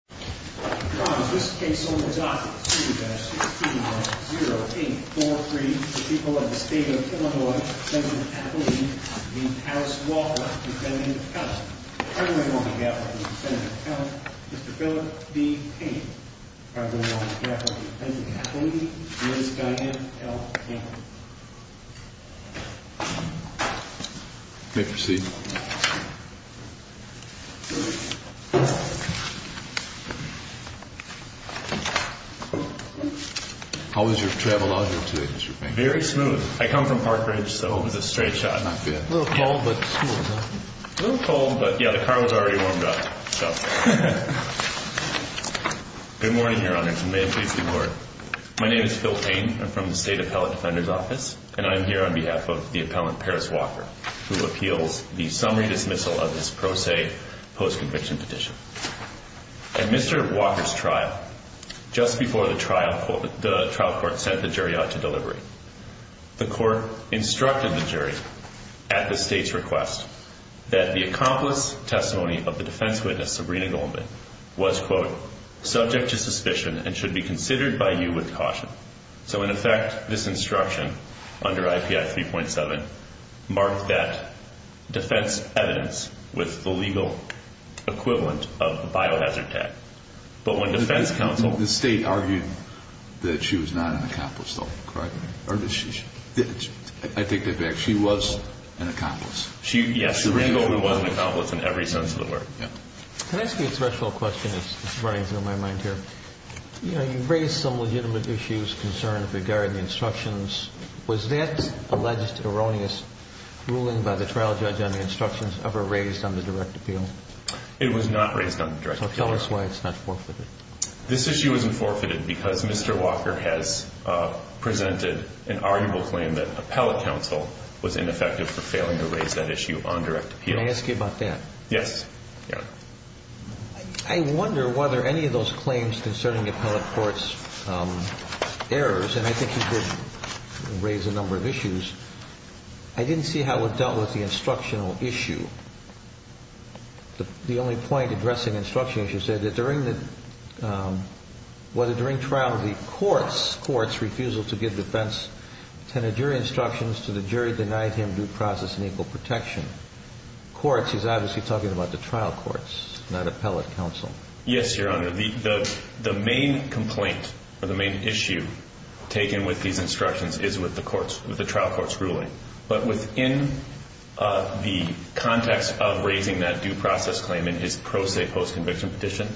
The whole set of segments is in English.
v. Senator Kelly, and by the name on the gap, Mr. Senator Kelly, Mr. Philip B. Payne. By the name on the gap, Mr. Senator Kelly, Ms. Diane L. Payne. May I proceed? How was your travel out here today, Mr. Payne? Very smooth. I come from Park Ridge, so it was a straight shot. Not bad. A little cold, but smooth, huh? A little cold, but yeah, the car was already warmed up, so. Good morning, Your Honors, and may it please the Lord. My name is Phil Payne. I'm from the State Appellate Defender's Office, and I'm here on behalf of the appellant, Paris Walker, who appeals the summary dismissal of this pro se post-conviction petition. At Mr. Walker's trial, just before the trial court sent the jury out to delivery, the court instructed the jury, at the State's request, that the accomplice testimony of the defense witness, Sabrina Goldman, was, quote, subject to suspicion and should be considered by you with caution. So, in effect, this instruction, under IPI 3.7, marked that defense evidence with the legal equivalent of a biohazard tag. But when defense counsel- The State argued that she was not an accomplice, though, correct? Or did she? I take that back. She was an accomplice. Yes, Sabrina Goldman was an accomplice in every sense of the word. Can I ask you a threshold question that's running through my mind here? You know, you raised some legitimate issues, concerns regarding the instructions. Was that alleged erroneous ruling by the trial judge on the instructions ever raised on the direct appeal? It was not raised on the direct appeal. So tell us why it's not forfeited. This issue isn't forfeited because Mr. Walker has presented an arguable claim that appellate counsel was ineffective for failing to raise that issue on direct appeal. Can I ask you about that? Yes. I wonder whether any of those claims concerning the appellate court's errors, and I think you did raise a number of issues, I didn't see how it dealt with the instructional issue. The only point addressing instruction, as you said, was that during trial, the court's refusal to give defense tenor jury instructions to the jury denied him due process and equal protection. Courts, he's obviously talking about the trial courts, not appellate counsel. Yes, Your Honor. The main complaint or the main issue taken with these instructions is with the trial court's ruling. But within the context of raising that due process claim in his pro se post-conviction petition,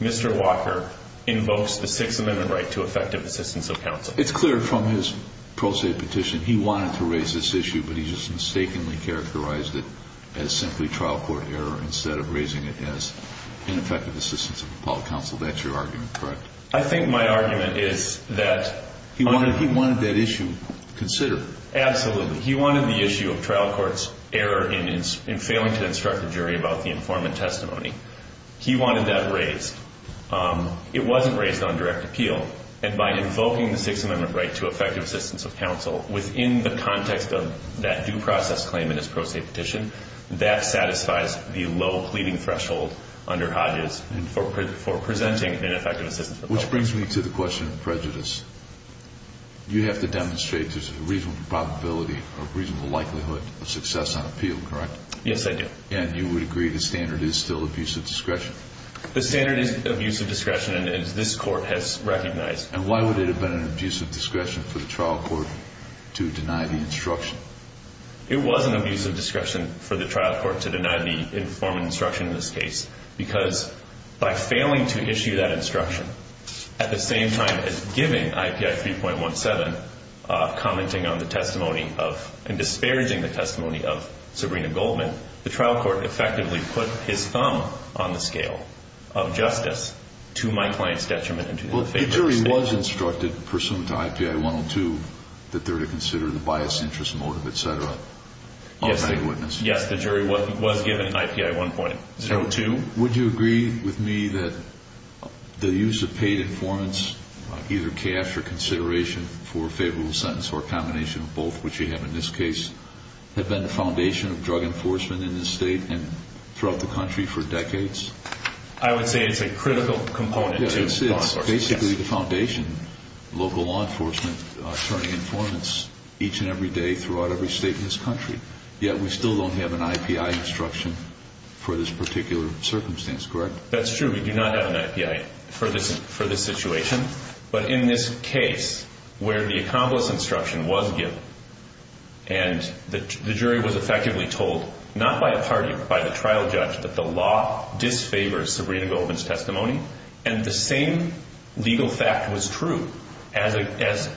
Mr. Walker invokes the Sixth Amendment right to effective assistance of counsel. It's clear from his pro se petition he wanted to raise this issue, but he just mistakenly characterized it as simply trial court error instead of raising it as ineffective assistance of appellate counsel. That's your argument, correct? I think my argument is that he wanted that issue considered. Absolutely. He wanted the issue of trial court's error in failing to instruct the jury about the informant testimony. He wanted that raised. It wasn't raised on direct appeal. And by invoking the Sixth Amendment right to effective assistance of counsel within the context of that due process claim in his pro se petition, that satisfies the low pleading threshold under Hodges for presenting ineffective assistance of counsel. Which brings me to the question of prejudice. You have to demonstrate there's a reasonable probability or reasonable likelihood of success on appeal, correct? Yes, I do. And you would agree the standard is still abuse of discretion? The standard is abuse of discretion, and this Court has recognized. And why would it have been an abuse of discretion for the trial court to deny the instruction? It was an abuse of discretion for the trial court to deny the informant instruction in this case because by failing to issue that instruction at the same time as giving IPI 3.17, commenting on the testimony of and disparaging the testimony of Sabrina Goldman, the trial court effectively put his thumb on the scale of justice to my client's detriment. Well, the jury was instructed pursuant to IPI 102 that they're to consider the biased interest motive, etc. Yes, the jury was given an IPI 1.02. Would you agree with me that the use of paid informants, either cash or consideration, for a favorable sentence or a combination of both, which you have in this case, have been the foundation of drug enforcement in this state and throughout the country for decades? I would say it's a critical component to law enforcement. Yes, it's basically the foundation of local law enforcement, turning informants each and every day throughout every state in this country. Yet we still don't have an IPI instruction for this particular circumstance, correct? That's true. We do not have an IPI for this situation. But in this case where the accomplice instruction was given and the jury was effectively told, not by a party but by the trial judge, that the law disfavors Sabrina Goldman's testimony and the same legal fact was true as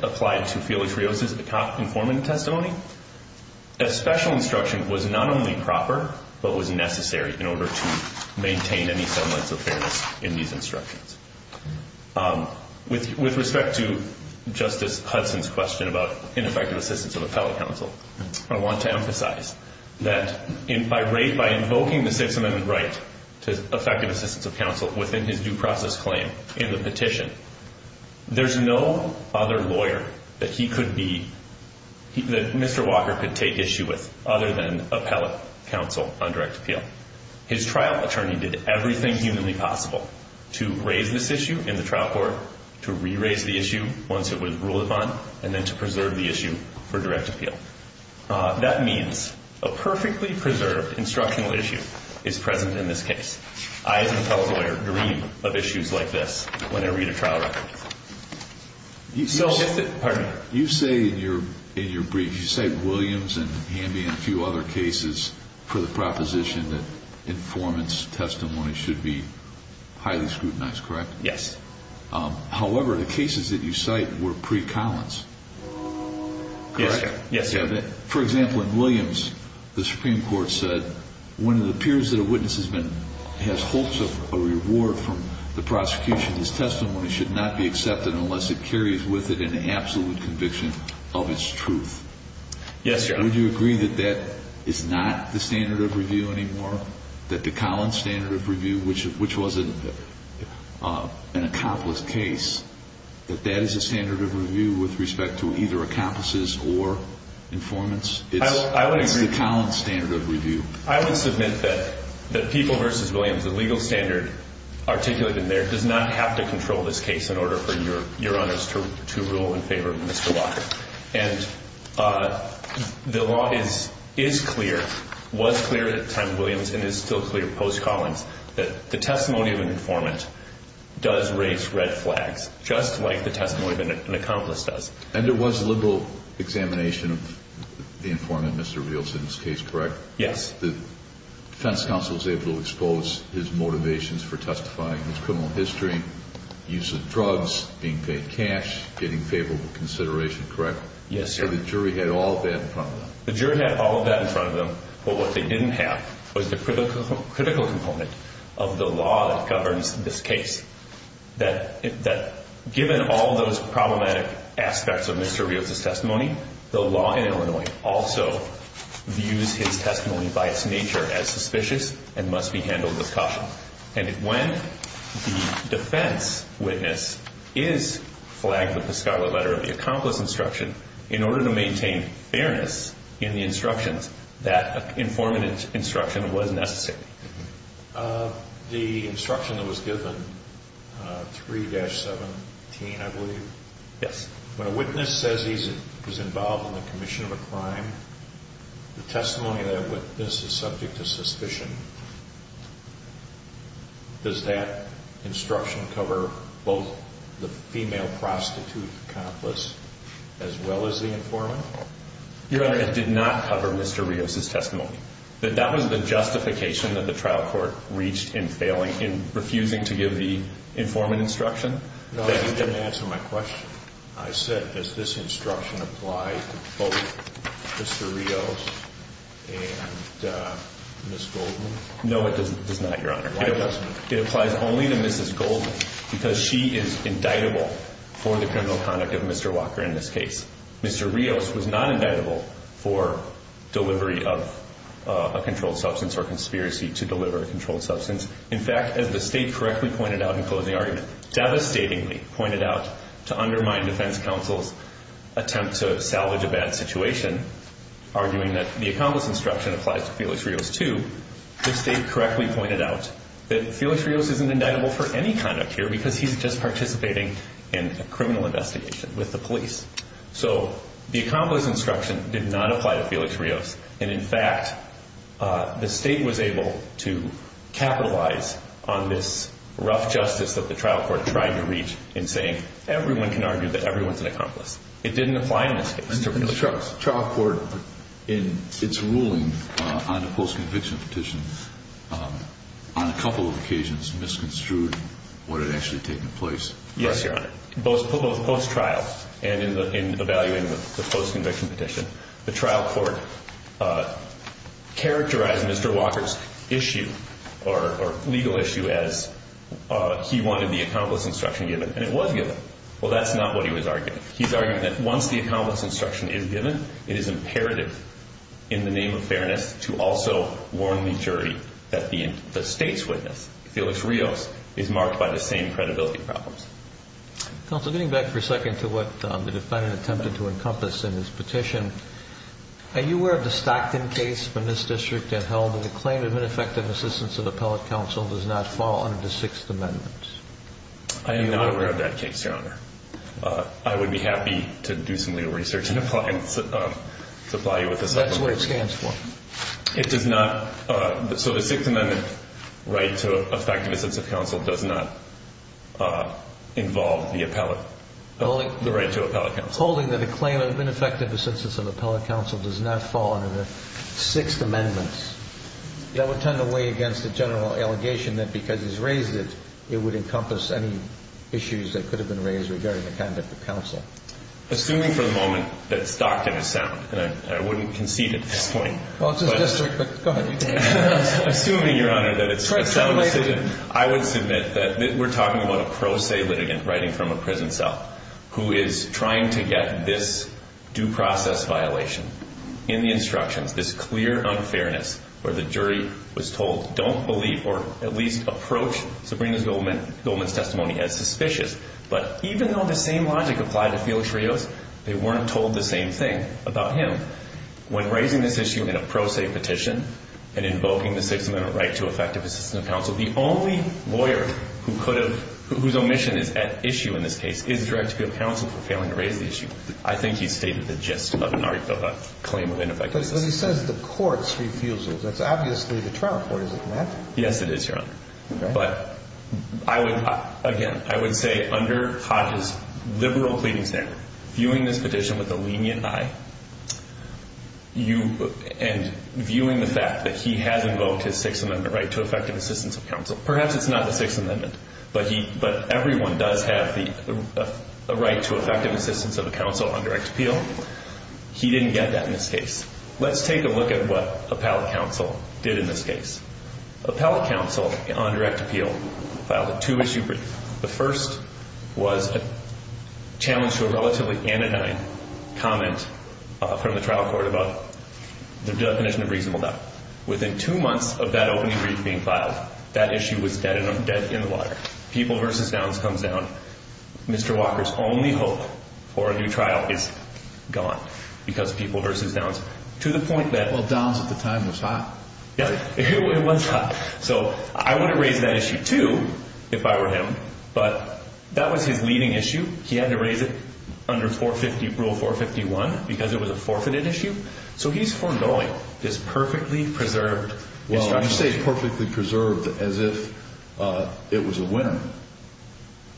applied to Felix Rios' informant testimony, a special instruction was not only proper but was necessary in order to maintain any semblance of fairness in these instructions. With respect to Justice Hudson's question about ineffective assistance of appellate counsel, I want to emphasize that by invoking the Sixth Amendment right to effective assistance of counsel within his due process claim in the petition, there's no other lawyer that Mr. Walker could take issue with other than appellate counsel on direct appeal. His trial attorney did everything humanly possible to raise this issue in the trial court, to re-raise the issue once it was ruled upon, and then to preserve the issue for direct appeal. That means a perfectly preserved instructional issue is present in this case. I, as an appellate lawyer, dream of issues like this when I read a trial record. You say in your brief, you cite Williams and Hamby and a few other cases for the proposition that informant's testimony should be highly scrutinized, correct? Yes. However, the cases that you cite were pre-Collins, correct? Yes, sir. For example, in Williams, the Supreme Court said, when it appears that a witness has hopes of a reward from the prosecution, that the testimony should not be accepted unless it carries with it an absolute conviction of its truth. Yes, Your Honor. Would you agree that that is not the standard of review anymore? That the Collins standard of review, which was an accomplice case, that that is a standard of review with respect to either accomplices or informants? It's the Collins standard of review. I would submit that People v. Williams, the legal standard articulated in there, does not have to control this case in order for Your Honors to rule in favor of Mr. Locke. And the law is clear, was clear at the time of Williams, and is still clear post-Collins, that the testimony of an informant does raise red flags, just like the testimony of an accomplice does. And there was liberal examination of the informant, Mr. Reales, in this case, correct? Yes. The defense counsel was able to expose his motivations for testifying, his criminal history, use of drugs, being paid cash, getting favorable consideration, correct? Yes, sir. The jury had all of that in front of them. The jury had all of that in front of them, but what they didn't have was the critical component of the law that governs this case, that given all those problematic aspects of Mr. Reales' testimony, the law in Illinois also views his testimony by its nature as suspicious and must be handled with caution. And when the defense witness is flagged with the scholarly letter of the accomplice instruction, in order to maintain fairness in the instructions, that informant instruction was necessary. The instruction that was given, 3-17, I believe? Yes. When a witness says he's involved in the commission of a crime, the testimony of that witness is subject to suspicion. Does that instruction cover both the female prostitute accomplice as well as the informant? Your Honor, it did not cover Mr. Reales' testimony. That was the justification that the trial court reached in refusing to give the informant instruction? No, you didn't answer my question. I said, does this instruction apply to both Mr. Reales and Ms. Goldman? No, it does not, Your Honor. Why doesn't it? It applies only to Mrs. Goldman because she is indictable for the criminal conduct of Mr. Walker in this case. Mr. Reales was not indictable for delivery of a controlled substance or conspiracy to deliver a controlled substance. In fact, as the State correctly pointed out in closing argument, devastatingly pointed out to undermine defense counsel's attempt to salvage a bad situation, arguing that the accomplice instruction applies to Felix Reales too, the State correctly pointed out that Felix Reales isn't indictable for any conduct here because he's just participating in a criminal investigation with the police. So the accomplice instruction did not apply to Felix Reales. And, in fact, the State was able to capitalize on this rough justice that the trial court tried to reach in saying everyone can argue that everyone's an accomplice. It didn't apply in this case. The trial court, in its ruling on the post-conviction petition, on a couple of occasions misconstrued what had actually taken place. Yes, Your Honor. Both post-trial and in evaluating the post-conviction petition, the trial court characterized Mr. Walker's issue or legal issue as he wanted the accomplice instruction given, and it was given. Well, that's not what he was arguing. He's arguing that once the accomplice instruction is given, it is imperative in the name of fairness to also warn the jury that the State's witness, Felix Reales, is marked by the same credibility problems. Counsel, getting back for a second to what the defendant attempted to encompass in his petition, are you aware of the Stockton case when this district had held that the claim of ineffective assistance of appellate counsel does not fall under the Sixth Amendment? I am not aware of that case, Your Honor. I would be happy to do some legal research and apply you with a supplementary. That's what it stands for. It does not. So the Sixth Amendment right to effective assistance of counsel does not involve the appellate, the right to appellate counsel. Holding that a claim of ineffective assistance of appellate counsel does not fall under the Sixth Amendment, that would tend to weigh against the general allegation that because he's raised it, it would encompass any issues that could have been raised regarding the conduct of counsel. Assuming for the moment that Stockton is sound, and I wouldn't concede at this point. Well, it's a district, but go ahead. Assuming, Your Honor, that it's a sound decision, I would submit that we're talking about a pro se litigant writing from a prison cell who is trying to get this due process violation in the instructions, this clear unfairness where the jury was told don't believe or at least approach Sabrina Goldman's testimony as suspicious. But even though the same logic applied to Felix Rios, they weren't told the same thing about him. When raising this issue in a pro se petition and invoking the Sixth Amendment right to effective assistance of counsel, the only lawyer whose omission is at issue in this case is the director of counsel for failing to raise the issue. I think he stated the gist of a claim of ineffective assistance. But he says the court's refusal. That's obviously the trial court, isn't that? Yes, it is, Your Honor. Okay. Again, I would say under Hodges' liberal pleading standard, viewing this petition with a lenient eye and viewing the fact that he has invoked his Sixth Amendment right to effective assistance of counsel, perhaps it's not the Sixth Amendment, but everyone does have the right to effective assistance of a counsel on direct appeal. He didn't get that in this case. Let's take a look at what appellate counsel did in this case. Appellate counsel on direct appeal filed a two-issue brief. The first was a challenge to a relatively anodyne comment from the trial court about the definition of reasonable doubt. Within two months of that opening brief being filed, that issue was dead in the water. People v. Downs comes down. Mr. Walker's only hope for a new trial is gone because of People v. Downs, to the point that Well, Downs at the time was hot. Yes, he was hot. So I would have raised that issue, too, if I were him, but that was his leading issue. He had to raise it under Rule 450, Rule 451 because it was a forfeited issue. So he's forgoing this perfectly preserved instruction. Well, you say perfectly preserved as if it was a win.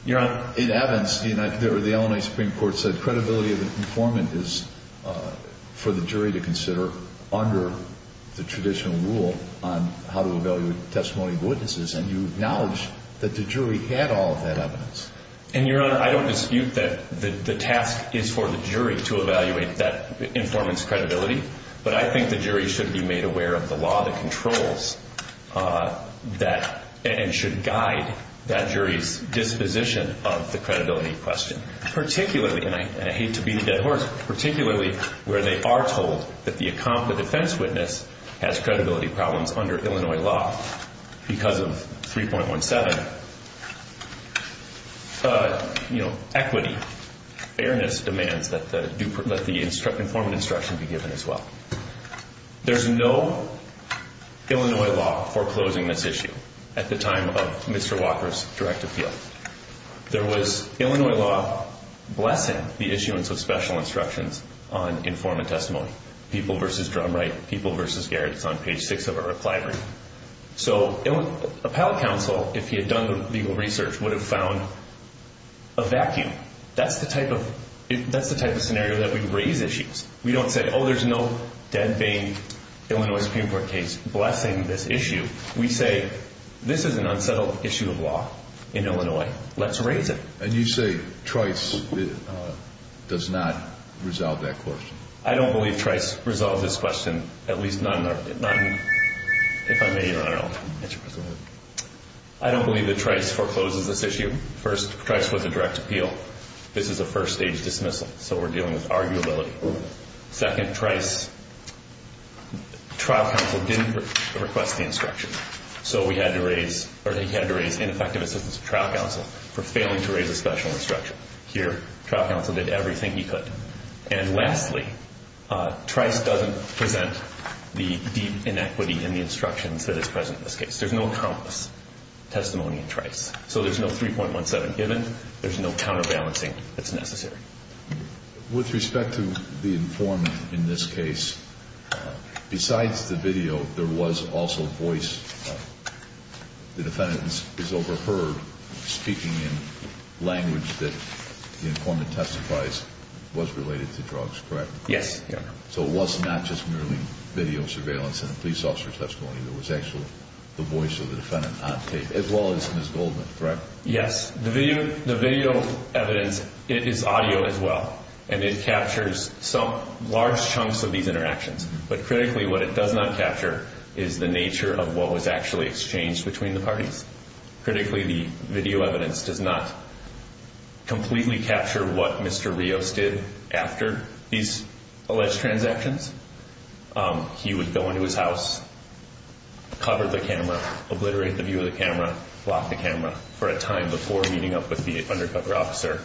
You're right. In Evans, the Illinois Supreme Court said is for the jury to consider under the traditional rule on how to evaluate testimony of witnesses, and you acknowledge that the jury had all of that evidence. And, Your Honor, I don't dispute that the task is for the jury to evaluate that informant's credibility, but I think the jury should be made aware of the law that controls that and should guide that jury's disposition of the credibility question, particularly, and I hate to beat a dead horse, particularly where they are told that the defense witness has credibility problems under Illinois law because of 3.17, equity, fairness demands that the informant instruction be given as well. There's no Illinois law foreclosing this issue at the time of Mr. Walker's direct appeal. There was Illinois law blessing the issuance of special instructions on informant testimony. People v. Drumwright, People v. Garrett, it's on page six of our reply brief. So a panel counsel, if he had done the legal research, would have found a vacuum. That's the type of scenario that we raise issues. We don't say, oh, there's no dead vein Illinois Supreme Court case blessing this issue. We say, this is an unsettled issue of law in Illinois. Let's raise it. And you say Trice does not resolve that question? I don't believe Trice resolved this question, at least not in our, not in, if I may, Your Honor, I'll answer. Go ahead. I don't believe that Trice forecloses this issue. First, Trice was a direct appeal. This is a first-stage dismissal, so we're dealing with arguability. Second, Trice, trial counsel didn't request the instruction, so he had to raise ineffective assistance of trial counsel for failing to raise a special instruction. Here, trial counsel did everything he could. And lastly, Trice doesn't present the deep inequity in the instructions that is present in this case. There's no countless testimony in Trice. So there's no 3.17 given. There's no counterbalancing that's necessary. With respect to the informant in this case, besides the video, there was also voice. The defendant is overheard speaking in language that the informant testifies was related to drugs, correct? Yes. So it was not just merely video surveillance and a police officer's testimony. There was actually the voice of the defendant on tape, as well as Ms. Goldman, correct? Yes. The video evidence, it is audio as well, and it captures some large chunks of these interactions. But critically, what it does not capture is the nature of what was actually exchanged between the parties. Critically, the video evidence does not completely capture what Mr. Rios did after these alleged transactions. He would go into his house, cover the camera, obliterate the view of the camera, lock the camera for a time before meeting up with the undercover officer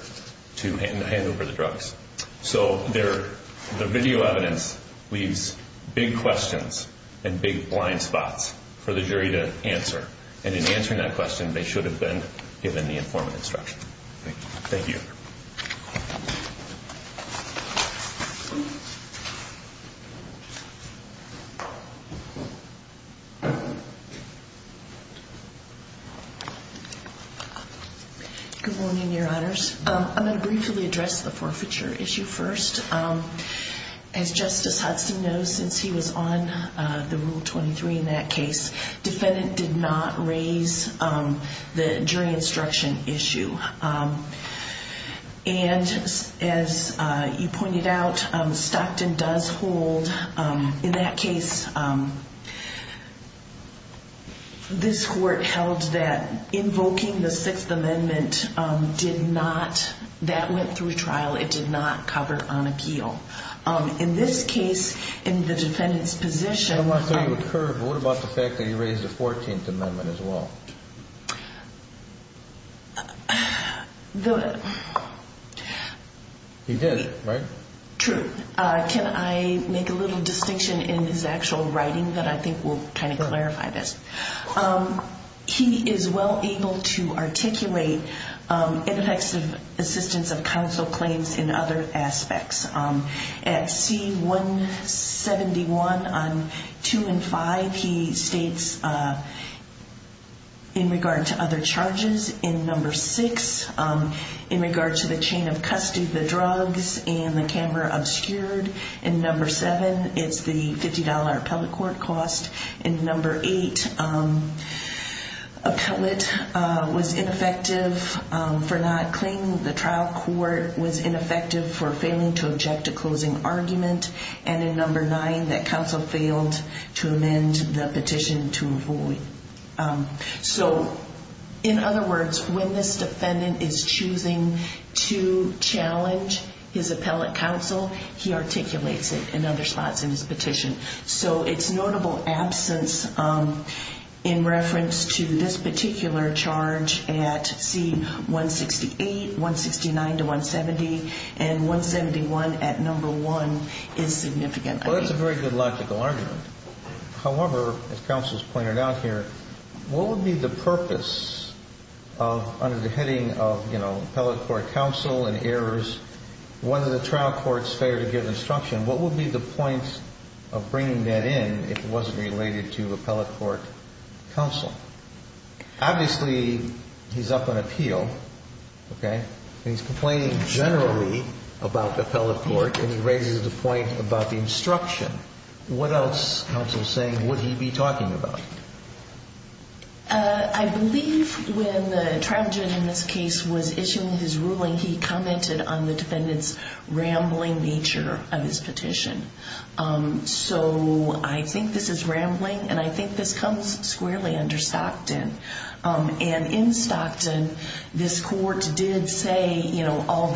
to hand over the drugs. So the video evidence leaves big questions and big blind spots for the jury to answer. And in answering that question, they should have been given the informant instruction. Thank you. Good morning, Your Honors. I'm going to briefly address the forfeiture issue first. As Justice Hudson knows, since he was on the Rule 23 in that case, defendant did not raise the jury instruction issue. And as you pointed out, Stockton does hold, in that case, this court held that invoking the Sixth Amendment did not, that went through trial. It did not cover on appeal. In this case, in the defendant's position... I don't want to throw you a curve, but what about the fact that he raised the 14th Amendment as well? He did, right? True. Can I make a little distinction in his actual writing that I think will kind of clarify this? He is well able to articulate ineffective assistance of counsel claims in other aspects. At C-171 on 2 and 5, he states, in regard to other charges, in number 6, in regard to the chain of custody, the drugs, and the camera obscured. In number 7, it's the $50 appellate court cost. In number 8, appellate was ineffective for not claiming the trial court, was ineffective for failing to object to closing argument. And in number 9, that counsel failed to amend the petition to avoid. So, in other words, when this defendant is choosing to challenge his appellate counsel, he articulates it in other spots in his petition. So its notable absence in reference to this particular charge at C-168, 169 to 170, and 171 at number 1 is significant. Well, that's a very good logical argument. However, as counsel has pointed out here, what would be the purpose of, under the heading of, you know, appellate court counsel and errors, whether the trial court's failure to give instruction, what would be the point of bringing that in if it wasn't related to appellate court counsel? Obviously, he's up on appeal, okay? He's complaining generally about the appellate court, and he raises the point about the instruction. What else, counsel is saying, would he be talking about? I believe when the trial judge in this case was issuing his ruling, he commented on the defendant's rambling nature of his petition. So I think this is rambling, and I think this comes squarely under Stockton. And in Stockton, this court did say, you know, that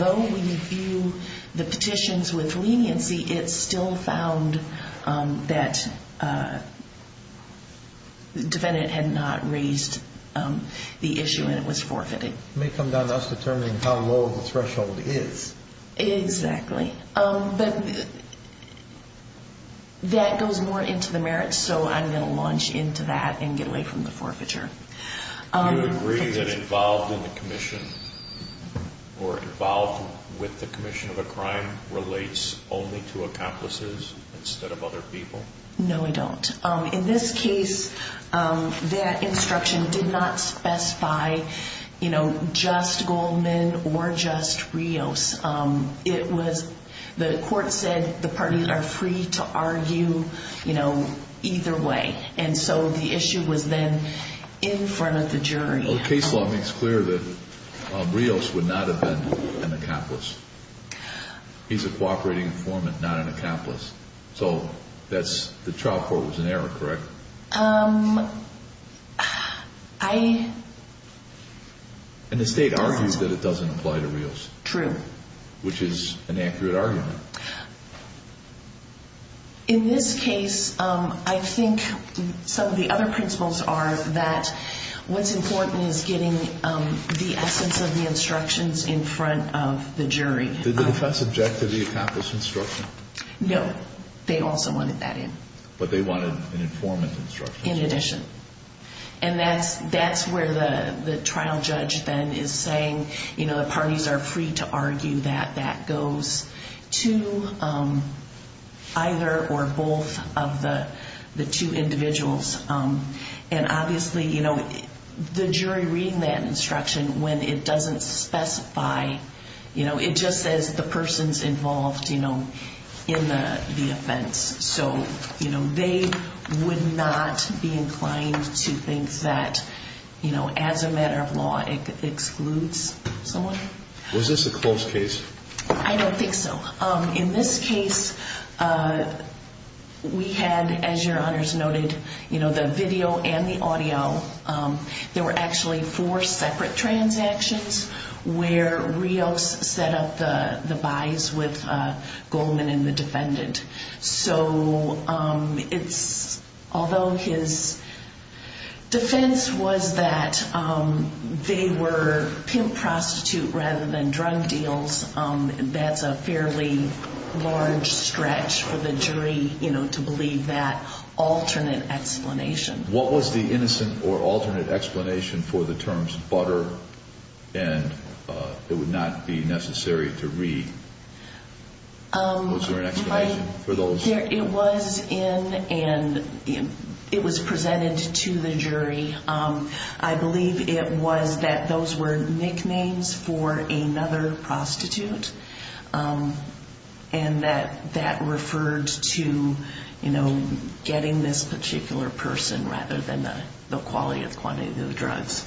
the defendant had not raised the issue and it was forfeited. It may come down to us determining how low the threshold is. Exactly. But that goes more into the merits, so I'm going to launch into that and get away from the forfeiture. Do you agree that involved in the commission or involved with the commission of a crime relates only to accomplices instead of other people? No, I don't. In this case, that instruction did not specify, you know, just Goldman or just Rios. It was the court said the parties are free to argue, you know, either way. And so the issue was then in front of the jury. You know, the case law makes clear that Rios would not have been an accomplice. He's a cooperating informant, not an accomplice. So the trial court was in error, correct? I... And the state argues that it doesn't apply to Rios. True. Which is an accurate argument. In this case, I think some of the other principles are that what's important is getting the essence of the instructions in front of the jury. Did the defense object to the accomplice instruction? No. They also wanted that in. But they wanted an informant instruction. In addition. And that's where the trial judge then is saying, you know, parties are free to argue that that goes to either or both of the two individuals. And obviously, you know, the jury reading that instruction, when it doesn't specify, you know, it just says the person's involved, you know, in the offense. So, you know, they would not be inclined to think that, you know, as a matter of law, it excludes someone. Was this a close case? I don't think so. In this case, we had, as your honors noted, you know, the video and the audio. There were actually four separate transactions where Rios set up the buys with Goldman and the defendant. So it's, although his defense was that they were pimp prostitute rather than drug deals, that's a fairly large stretch for the jury, you know, to believe that alternate explanation. What was the innocent or alternate explanation for the terms butter and it would not be necessary to read? Was there an explanation for those? It was in and it was presented to the jury. I believe it was that those were nicknames for another prostitute and that that referred to, you know, getting this particular person rather than the quality of quantity of the drugs.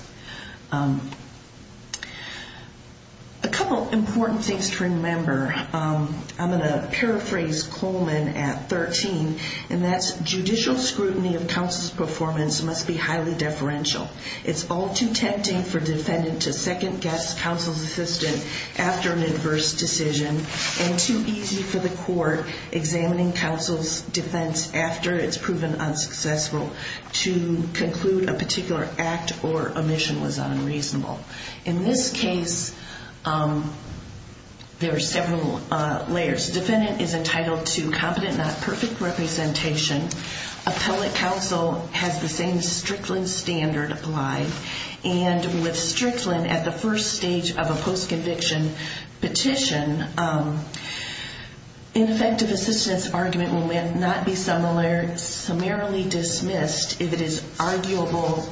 A couple of important things to remember. I'm going to paraphrase Coleman at 13, and that's judicial scrutiny of counsel's performance must be highly deferential. It's all too tempting for defendant to second guess counsel's assistant after an adverse decision and too easy for the court examining counsel's defense after it's proven unsuccessful to conclude a particular act or amendment. The definition was unreasonable. In this case, there are several layers. Defendant is entitled to competent, not perfect representation. Appellate counsel has the same Strickland standard applied, and with Strickland at the first stage of a post-conviction petition, ineffective assistance argument will not be summarily dismissed if it is arguable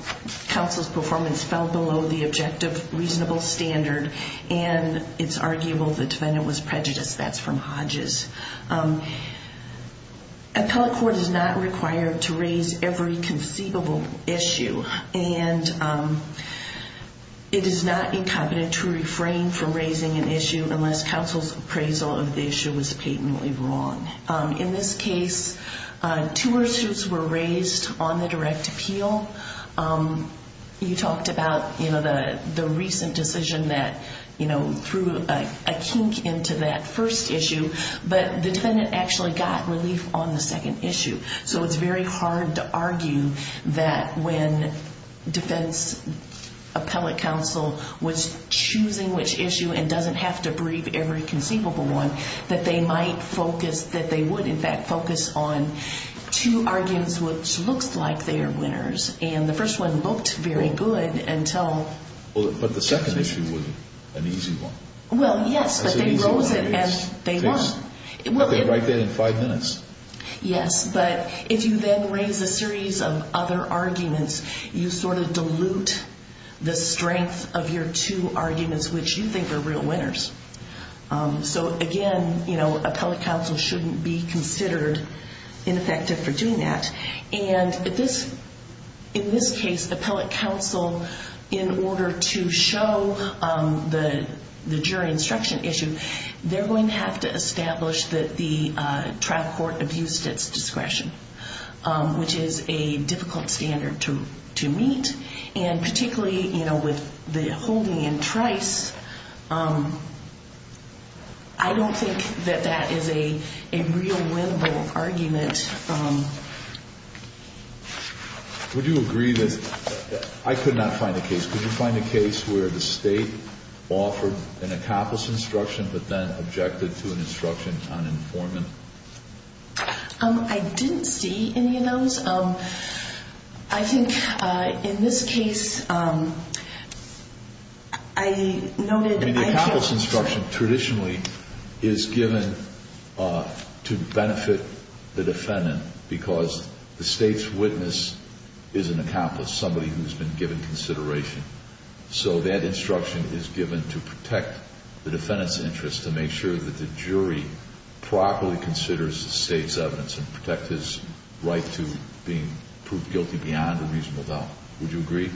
counsel's performance fell below the objective reasonable standard, and it's arguable the defendant was prejudiced. That's from Hodges. Appellate court is not required to raise every conceivable issue, and it is not incompetent to refrain from raising an issue unless counsel's performance appraisal of the issue was patently wrong. In this case, two pursuits were raised on the direct appeal. You talked about the recent decision that threw a kink into that first issue, but the defendant actually got relief on the second issue. So it's very hard to argue that when defense appellate counsel was choosing which issue and doesn't have to brief every conceivable issue, that they might focus, that they would in fact focus on two arguments which looks like they are winners, and the first one looked very good until... But the second issue wasn't an easy one. Well, yes, but they rose it as they won. I could write that in five minutes. Yes, but if you then raise a series of other arguments, you sort of dilute the strength of your two arguments which you think are real winners. So again, appellate counsel shouldn't be considered ineffective for doing that, and in this case, appellate counsel, in order to show the jury instruction issue, they're going to have to establish that the trial court abused its discretion, which is a difficult standard to meet, and particularly with the holding in Trice, I don't think that that is a real win-win argument. Would you agree that... I could not find a case. Could you find a case where the state offered an accomplice instruction but then objected to an instruction on informant? I didn't see any of those. I think in this case, I noted... I mean, the accomplice instruction traditionally is given to benefit the defendant because the state's witness is an accomplice, somebody who's been given consideration. So that instruction is given to protect the defendant's interest to make sure that the jury properly considers the state's evidence and protect his right to being proved guilty beyond a reasonable doubt. Would you agree?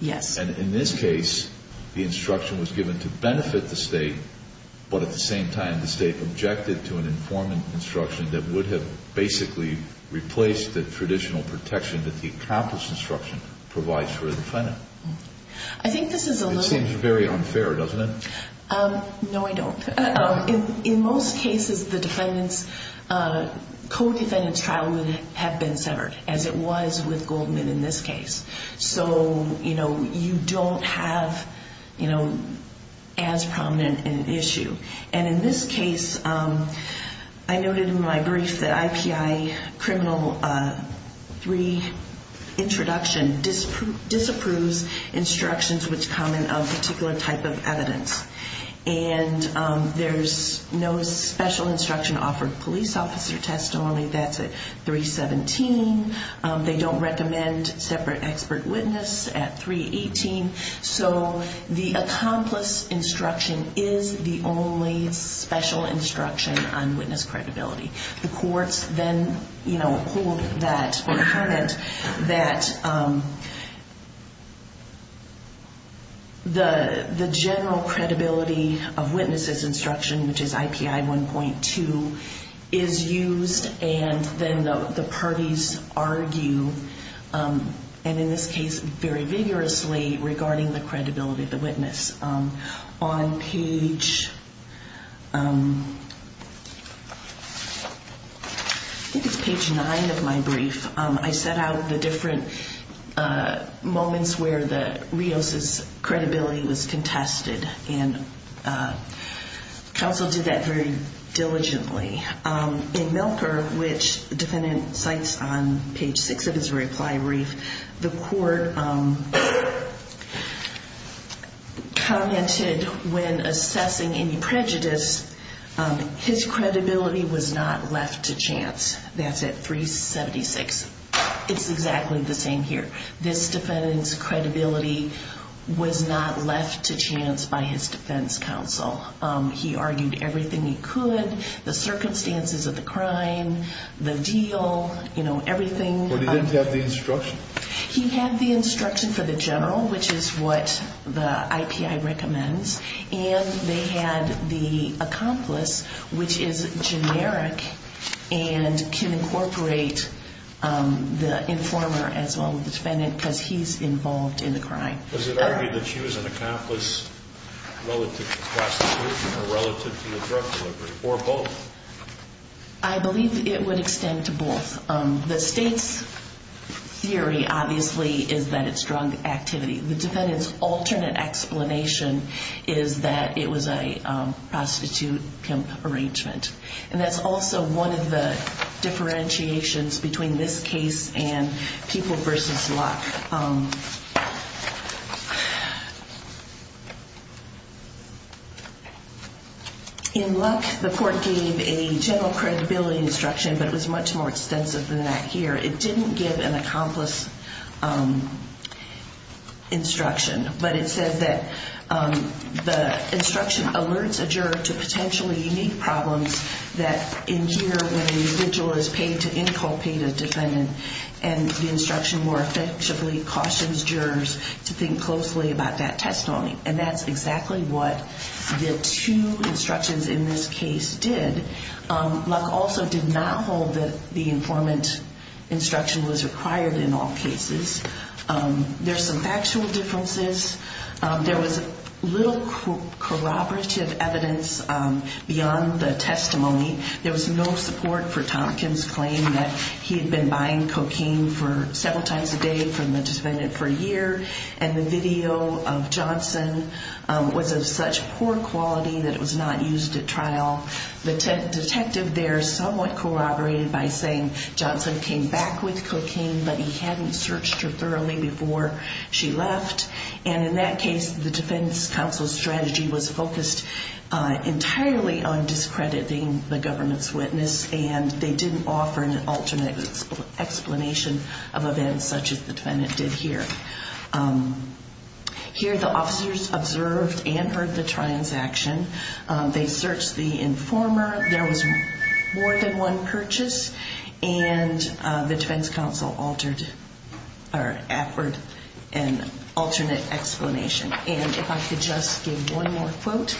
Yes. And in this case, the instruction was given to benefit the state, but at the same time, the state objected to an informant instruction that would have basically replaced the traditional protection that the accomplice instruction provides for a defendant. I think this is a little... It seems very unfair, doesn't it? No, I don't. In most cases, the defendant's... Co-defendant's trial would have been severed, as it was with Goldman in this case. So, you know, you don't have, you know, as prominent an issue. And in this case, I noted in my brief that IPI criminal 3 introduction disapproves instruction. And there's no special instruction offered police officer testimony. That's at 317. They don't recommend separate expert witness at 318. So the accomplice instruction is the only special instruction on witness credibility. The courts then, you know, hold that or hermit that... The general credibility of witnesses instruction, which is IPI 1.2, is used. And then the parties argue, and in this case very vigorously, regarding the credibility of the witness. On page... I think it's page 9 of my brief, I set out the different moments where the Rio Santos trial was held. When the defendant's credibility was contested, and counsel did that very diligently. In Milker, which the defendant cites on page 6 of his reply brief, the court commented when assessing any prejudice, his credibility was not left to chance. That's at 376. It's exactly the same here. This defendant's credibility was not left to chance by his defense counsel. He argued everything he could, the circumstances of the crime, the deal, you know, everything. But he didn't have the instruction? He had the instruction for the general, which is what the IPI recommends. And they had the accomplice, which is generic and can incorporate the informer as well as the defendant, because he's involved in the crime. Does it argue that she was an accomplice relative to prostitution or relative to the drug delivery, or both? I believe it would extend to both. The state's theory, obviously, is that it's drug activity. The defendant's alternate explanation is that it was a prostitute-pimp arrangement. And that's also one of the differentiations between this case and People v. Luck. In Luck, the court gave a general credibility instruction, but it was much more extensive than that here. It didn't give an accomplice instruction. But it says that the instruction alerts a juror to potentially unique problems that, in here, when a vigil is paid to inculpate a defendant, and the instruction more effectively cautions jurors to think closely about that testimony. And that's exactly what the two instructions in this case did. Luck also did not hold that the informant instruction was required in all cases. There's some factual differences. There was little corroborative evidence beyond the testimony. There was no support for Tompkins' claim that he had been buying cocaine several times a day from the defendant for a year, and the video of Johnson was of such poor quality that it was not used at trial. The detective there somewhat corroborated by saying Johnson came back with cocaine, but he hadn't searched her thoroughly before she left. And in that case, the defense counsel's strategy was focused entirely on discrediting the government's witness, and they didn't offer an alternate explanation of events such as the defendant did here. Here, the officers observed and heard the transaction. They searched the informer. There was more than one purchase, and the defense counsel offered an alternate explanation. And if I could just give one more quote,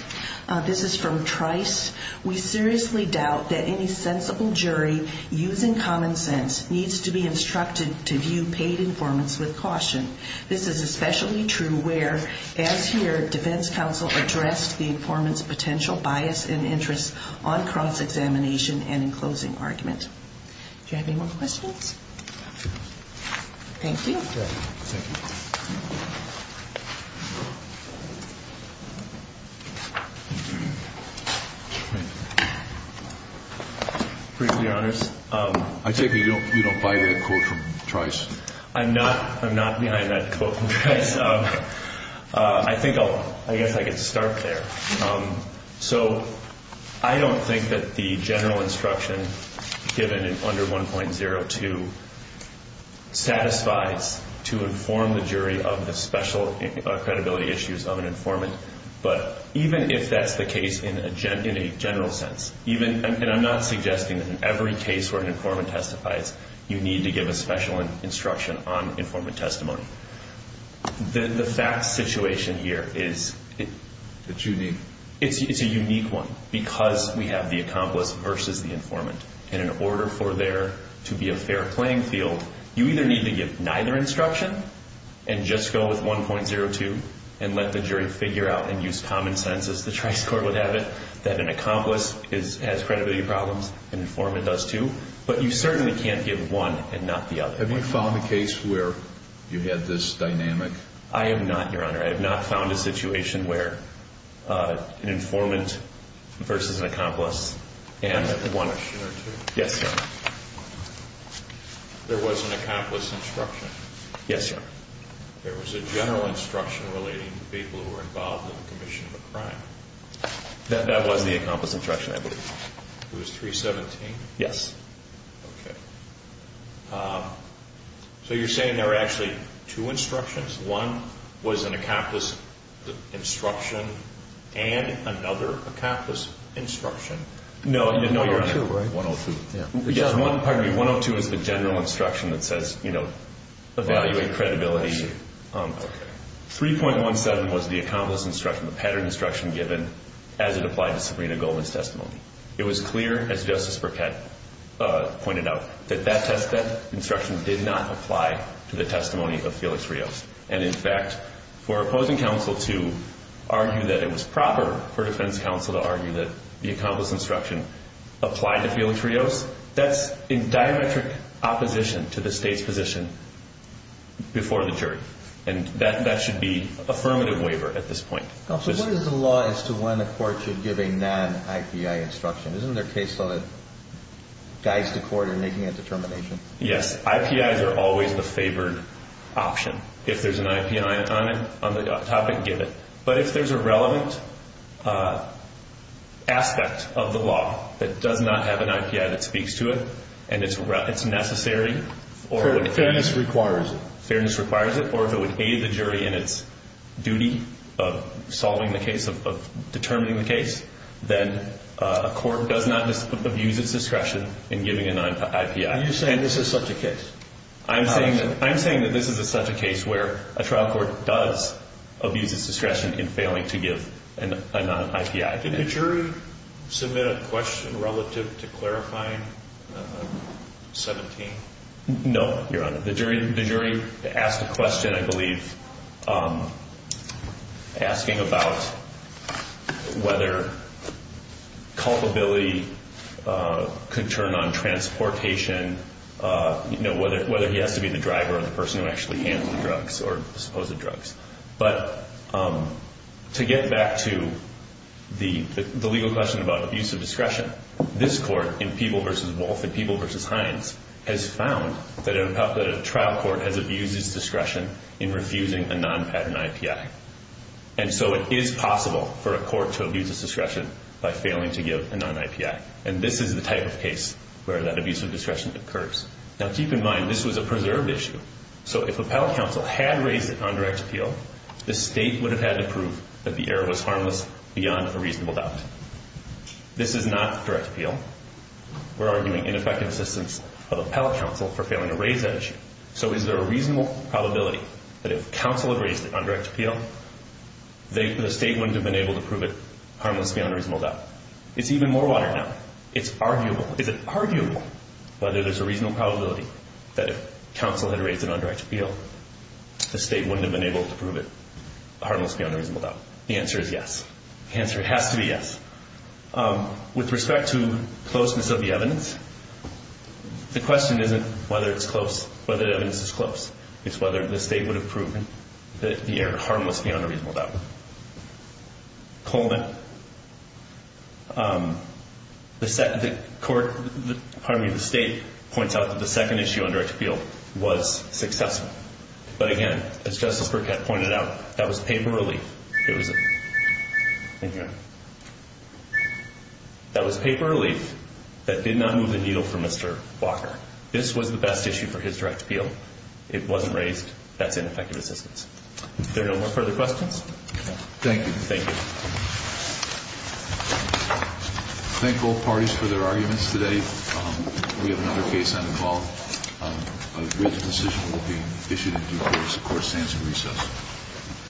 this is from Trice. We seriously doubt that any sensible jury using common sense needs to be instructed to view paid informants with caution. This is especially true where, as here, defense counsel addressed the informant's potential bias and interest on cross-examination and in closing argument. Do you have any more questions? Thank you. Thank you. I take it you don't buy that quote from Trice? I'm not behind that quote from Trice. I think I'll, I guess I could start there. So I don't think that the general instruction given under 1.02 satisfies to inform the jury of the special credibility issues of an informant. But even if that's the case in a general sense, and I'm not suggesting that in every case where an informant testifies, you need to give a special instruction on informant testimony. The facts situation here is a unique one because we have the accomplice versus the informant. And in order for there to be a fair playing field, you either need to give neither instruction and just go with 1.02 and let the jury figure out and use common sense as the Trice Court would have it that an accomplice has credibility problems, an informant does too, but you certainly can't give one and not the other. Have you found a case where you had this dynamic? I have not, Your Honor. I have not found a situation where an informant versus an accomplice and one or two. Yes, Your Honor. There was an accomplice instruction? Yes, Your Honor. There was a general instruction relating to people who were involved in the commission of a crime? That was the accomplice instruction, I believe. It was 317? Yes. Okay. So you're saying there were actually two instructions? One was an accomplice instruction and another accomplice instruction? No, Your Honor. 1.02, right? 1.02, yeah. 1.02 is the general instruction that says evaluate credibility. 3.17 was the accomplice instruction, the pattern instruction given as it applied to Sabrina Goldman's testimony. It was clear, as Justice Burkett pointed out, that that instruction did not apply to the testimony of Felix Rios. And in fact, for opposing counsel to argue that it was proper for defense counsel to argue that the accomplice instruction applied to Felix Rios, that's in diametric opposition to the state's position before the jury. And that should be affirmative waiver at this point. Counsel, what is the law as to when a court should give a non-IPI instruction? Isn't there a case where guys to court are making a determination? Yes. IPIs are always the favored option. If there's an IPI on the topic, give it. But if there's a relevant aspect of the law that does not have an IPI that speaks to it and it's necessary... Fairness requires it. Fairness requires it. Or if it would aid the jury in its duty of solving the case, of determining the case, then a court does not abuse its discretion in giving a non-IPI. Are you saying this is such a case? I'm saying that this is such a case where a trial court does abuse its discretion in failing to give a non-IPI. Did the jury submit a question relative to clarifying 17? No, Your Honor. The jury asked a question, I believe, asking about whether culpability could turn on transportation, whether he has to be the driver or the person who actually handled the drugs or disposed of drugs. But to get back to the legal question about abuse of discretion, this Court in Peeble v. Wolf and Peeble v. Hines has found that a trial court has abused its discretion in refusing a non-pattern IPI. And so it is possible for a court to abuse its discretion by failing to give a non-IPI. And this is the type of case where that abuse of discretion occurs. Now, keep in mind, this was a preserved issue. So if Appellate Counsel had raised it on direct appeal, the State would have had to prove that the error was harmless beyond a reasonable doubt. This is not direct appeal. We're arguing ineffective assistance of Appellate Counsel for failing to raise that issue. So is there a reasonable probability that if Counsel had raised it on direct appeal, the State wouldn't have been able to prove it harmless beyond a reasonable doubt? It's even more watered down. It's arguable. Is it arguable whether there's a reasonable probability that if Counsel had raised it on direct appeal, the State wouldn't have been able to prove it harmless beyond a reasonable doubt? The answer is yes. The answer has to be yes. With respect to closeness of the evidence, the question isn't whether it's close, whether the evidence is close. It's whether the State would have proven that the error was harmless. The State points out that the second issue on direct appeal was successful. But again, as Justice Burkett pointed out, that was paper relief. That was paper relief that did not move the needle for Mr. Walker. This was the best issue for his direct appeal. It wasn't raised. That's ineffective assistance. If there are no more further questions. Thank you. Thank you. Thank both parties for their arguments today. We have another case on the call. A decision will be issued in due course, of course, to answer recess.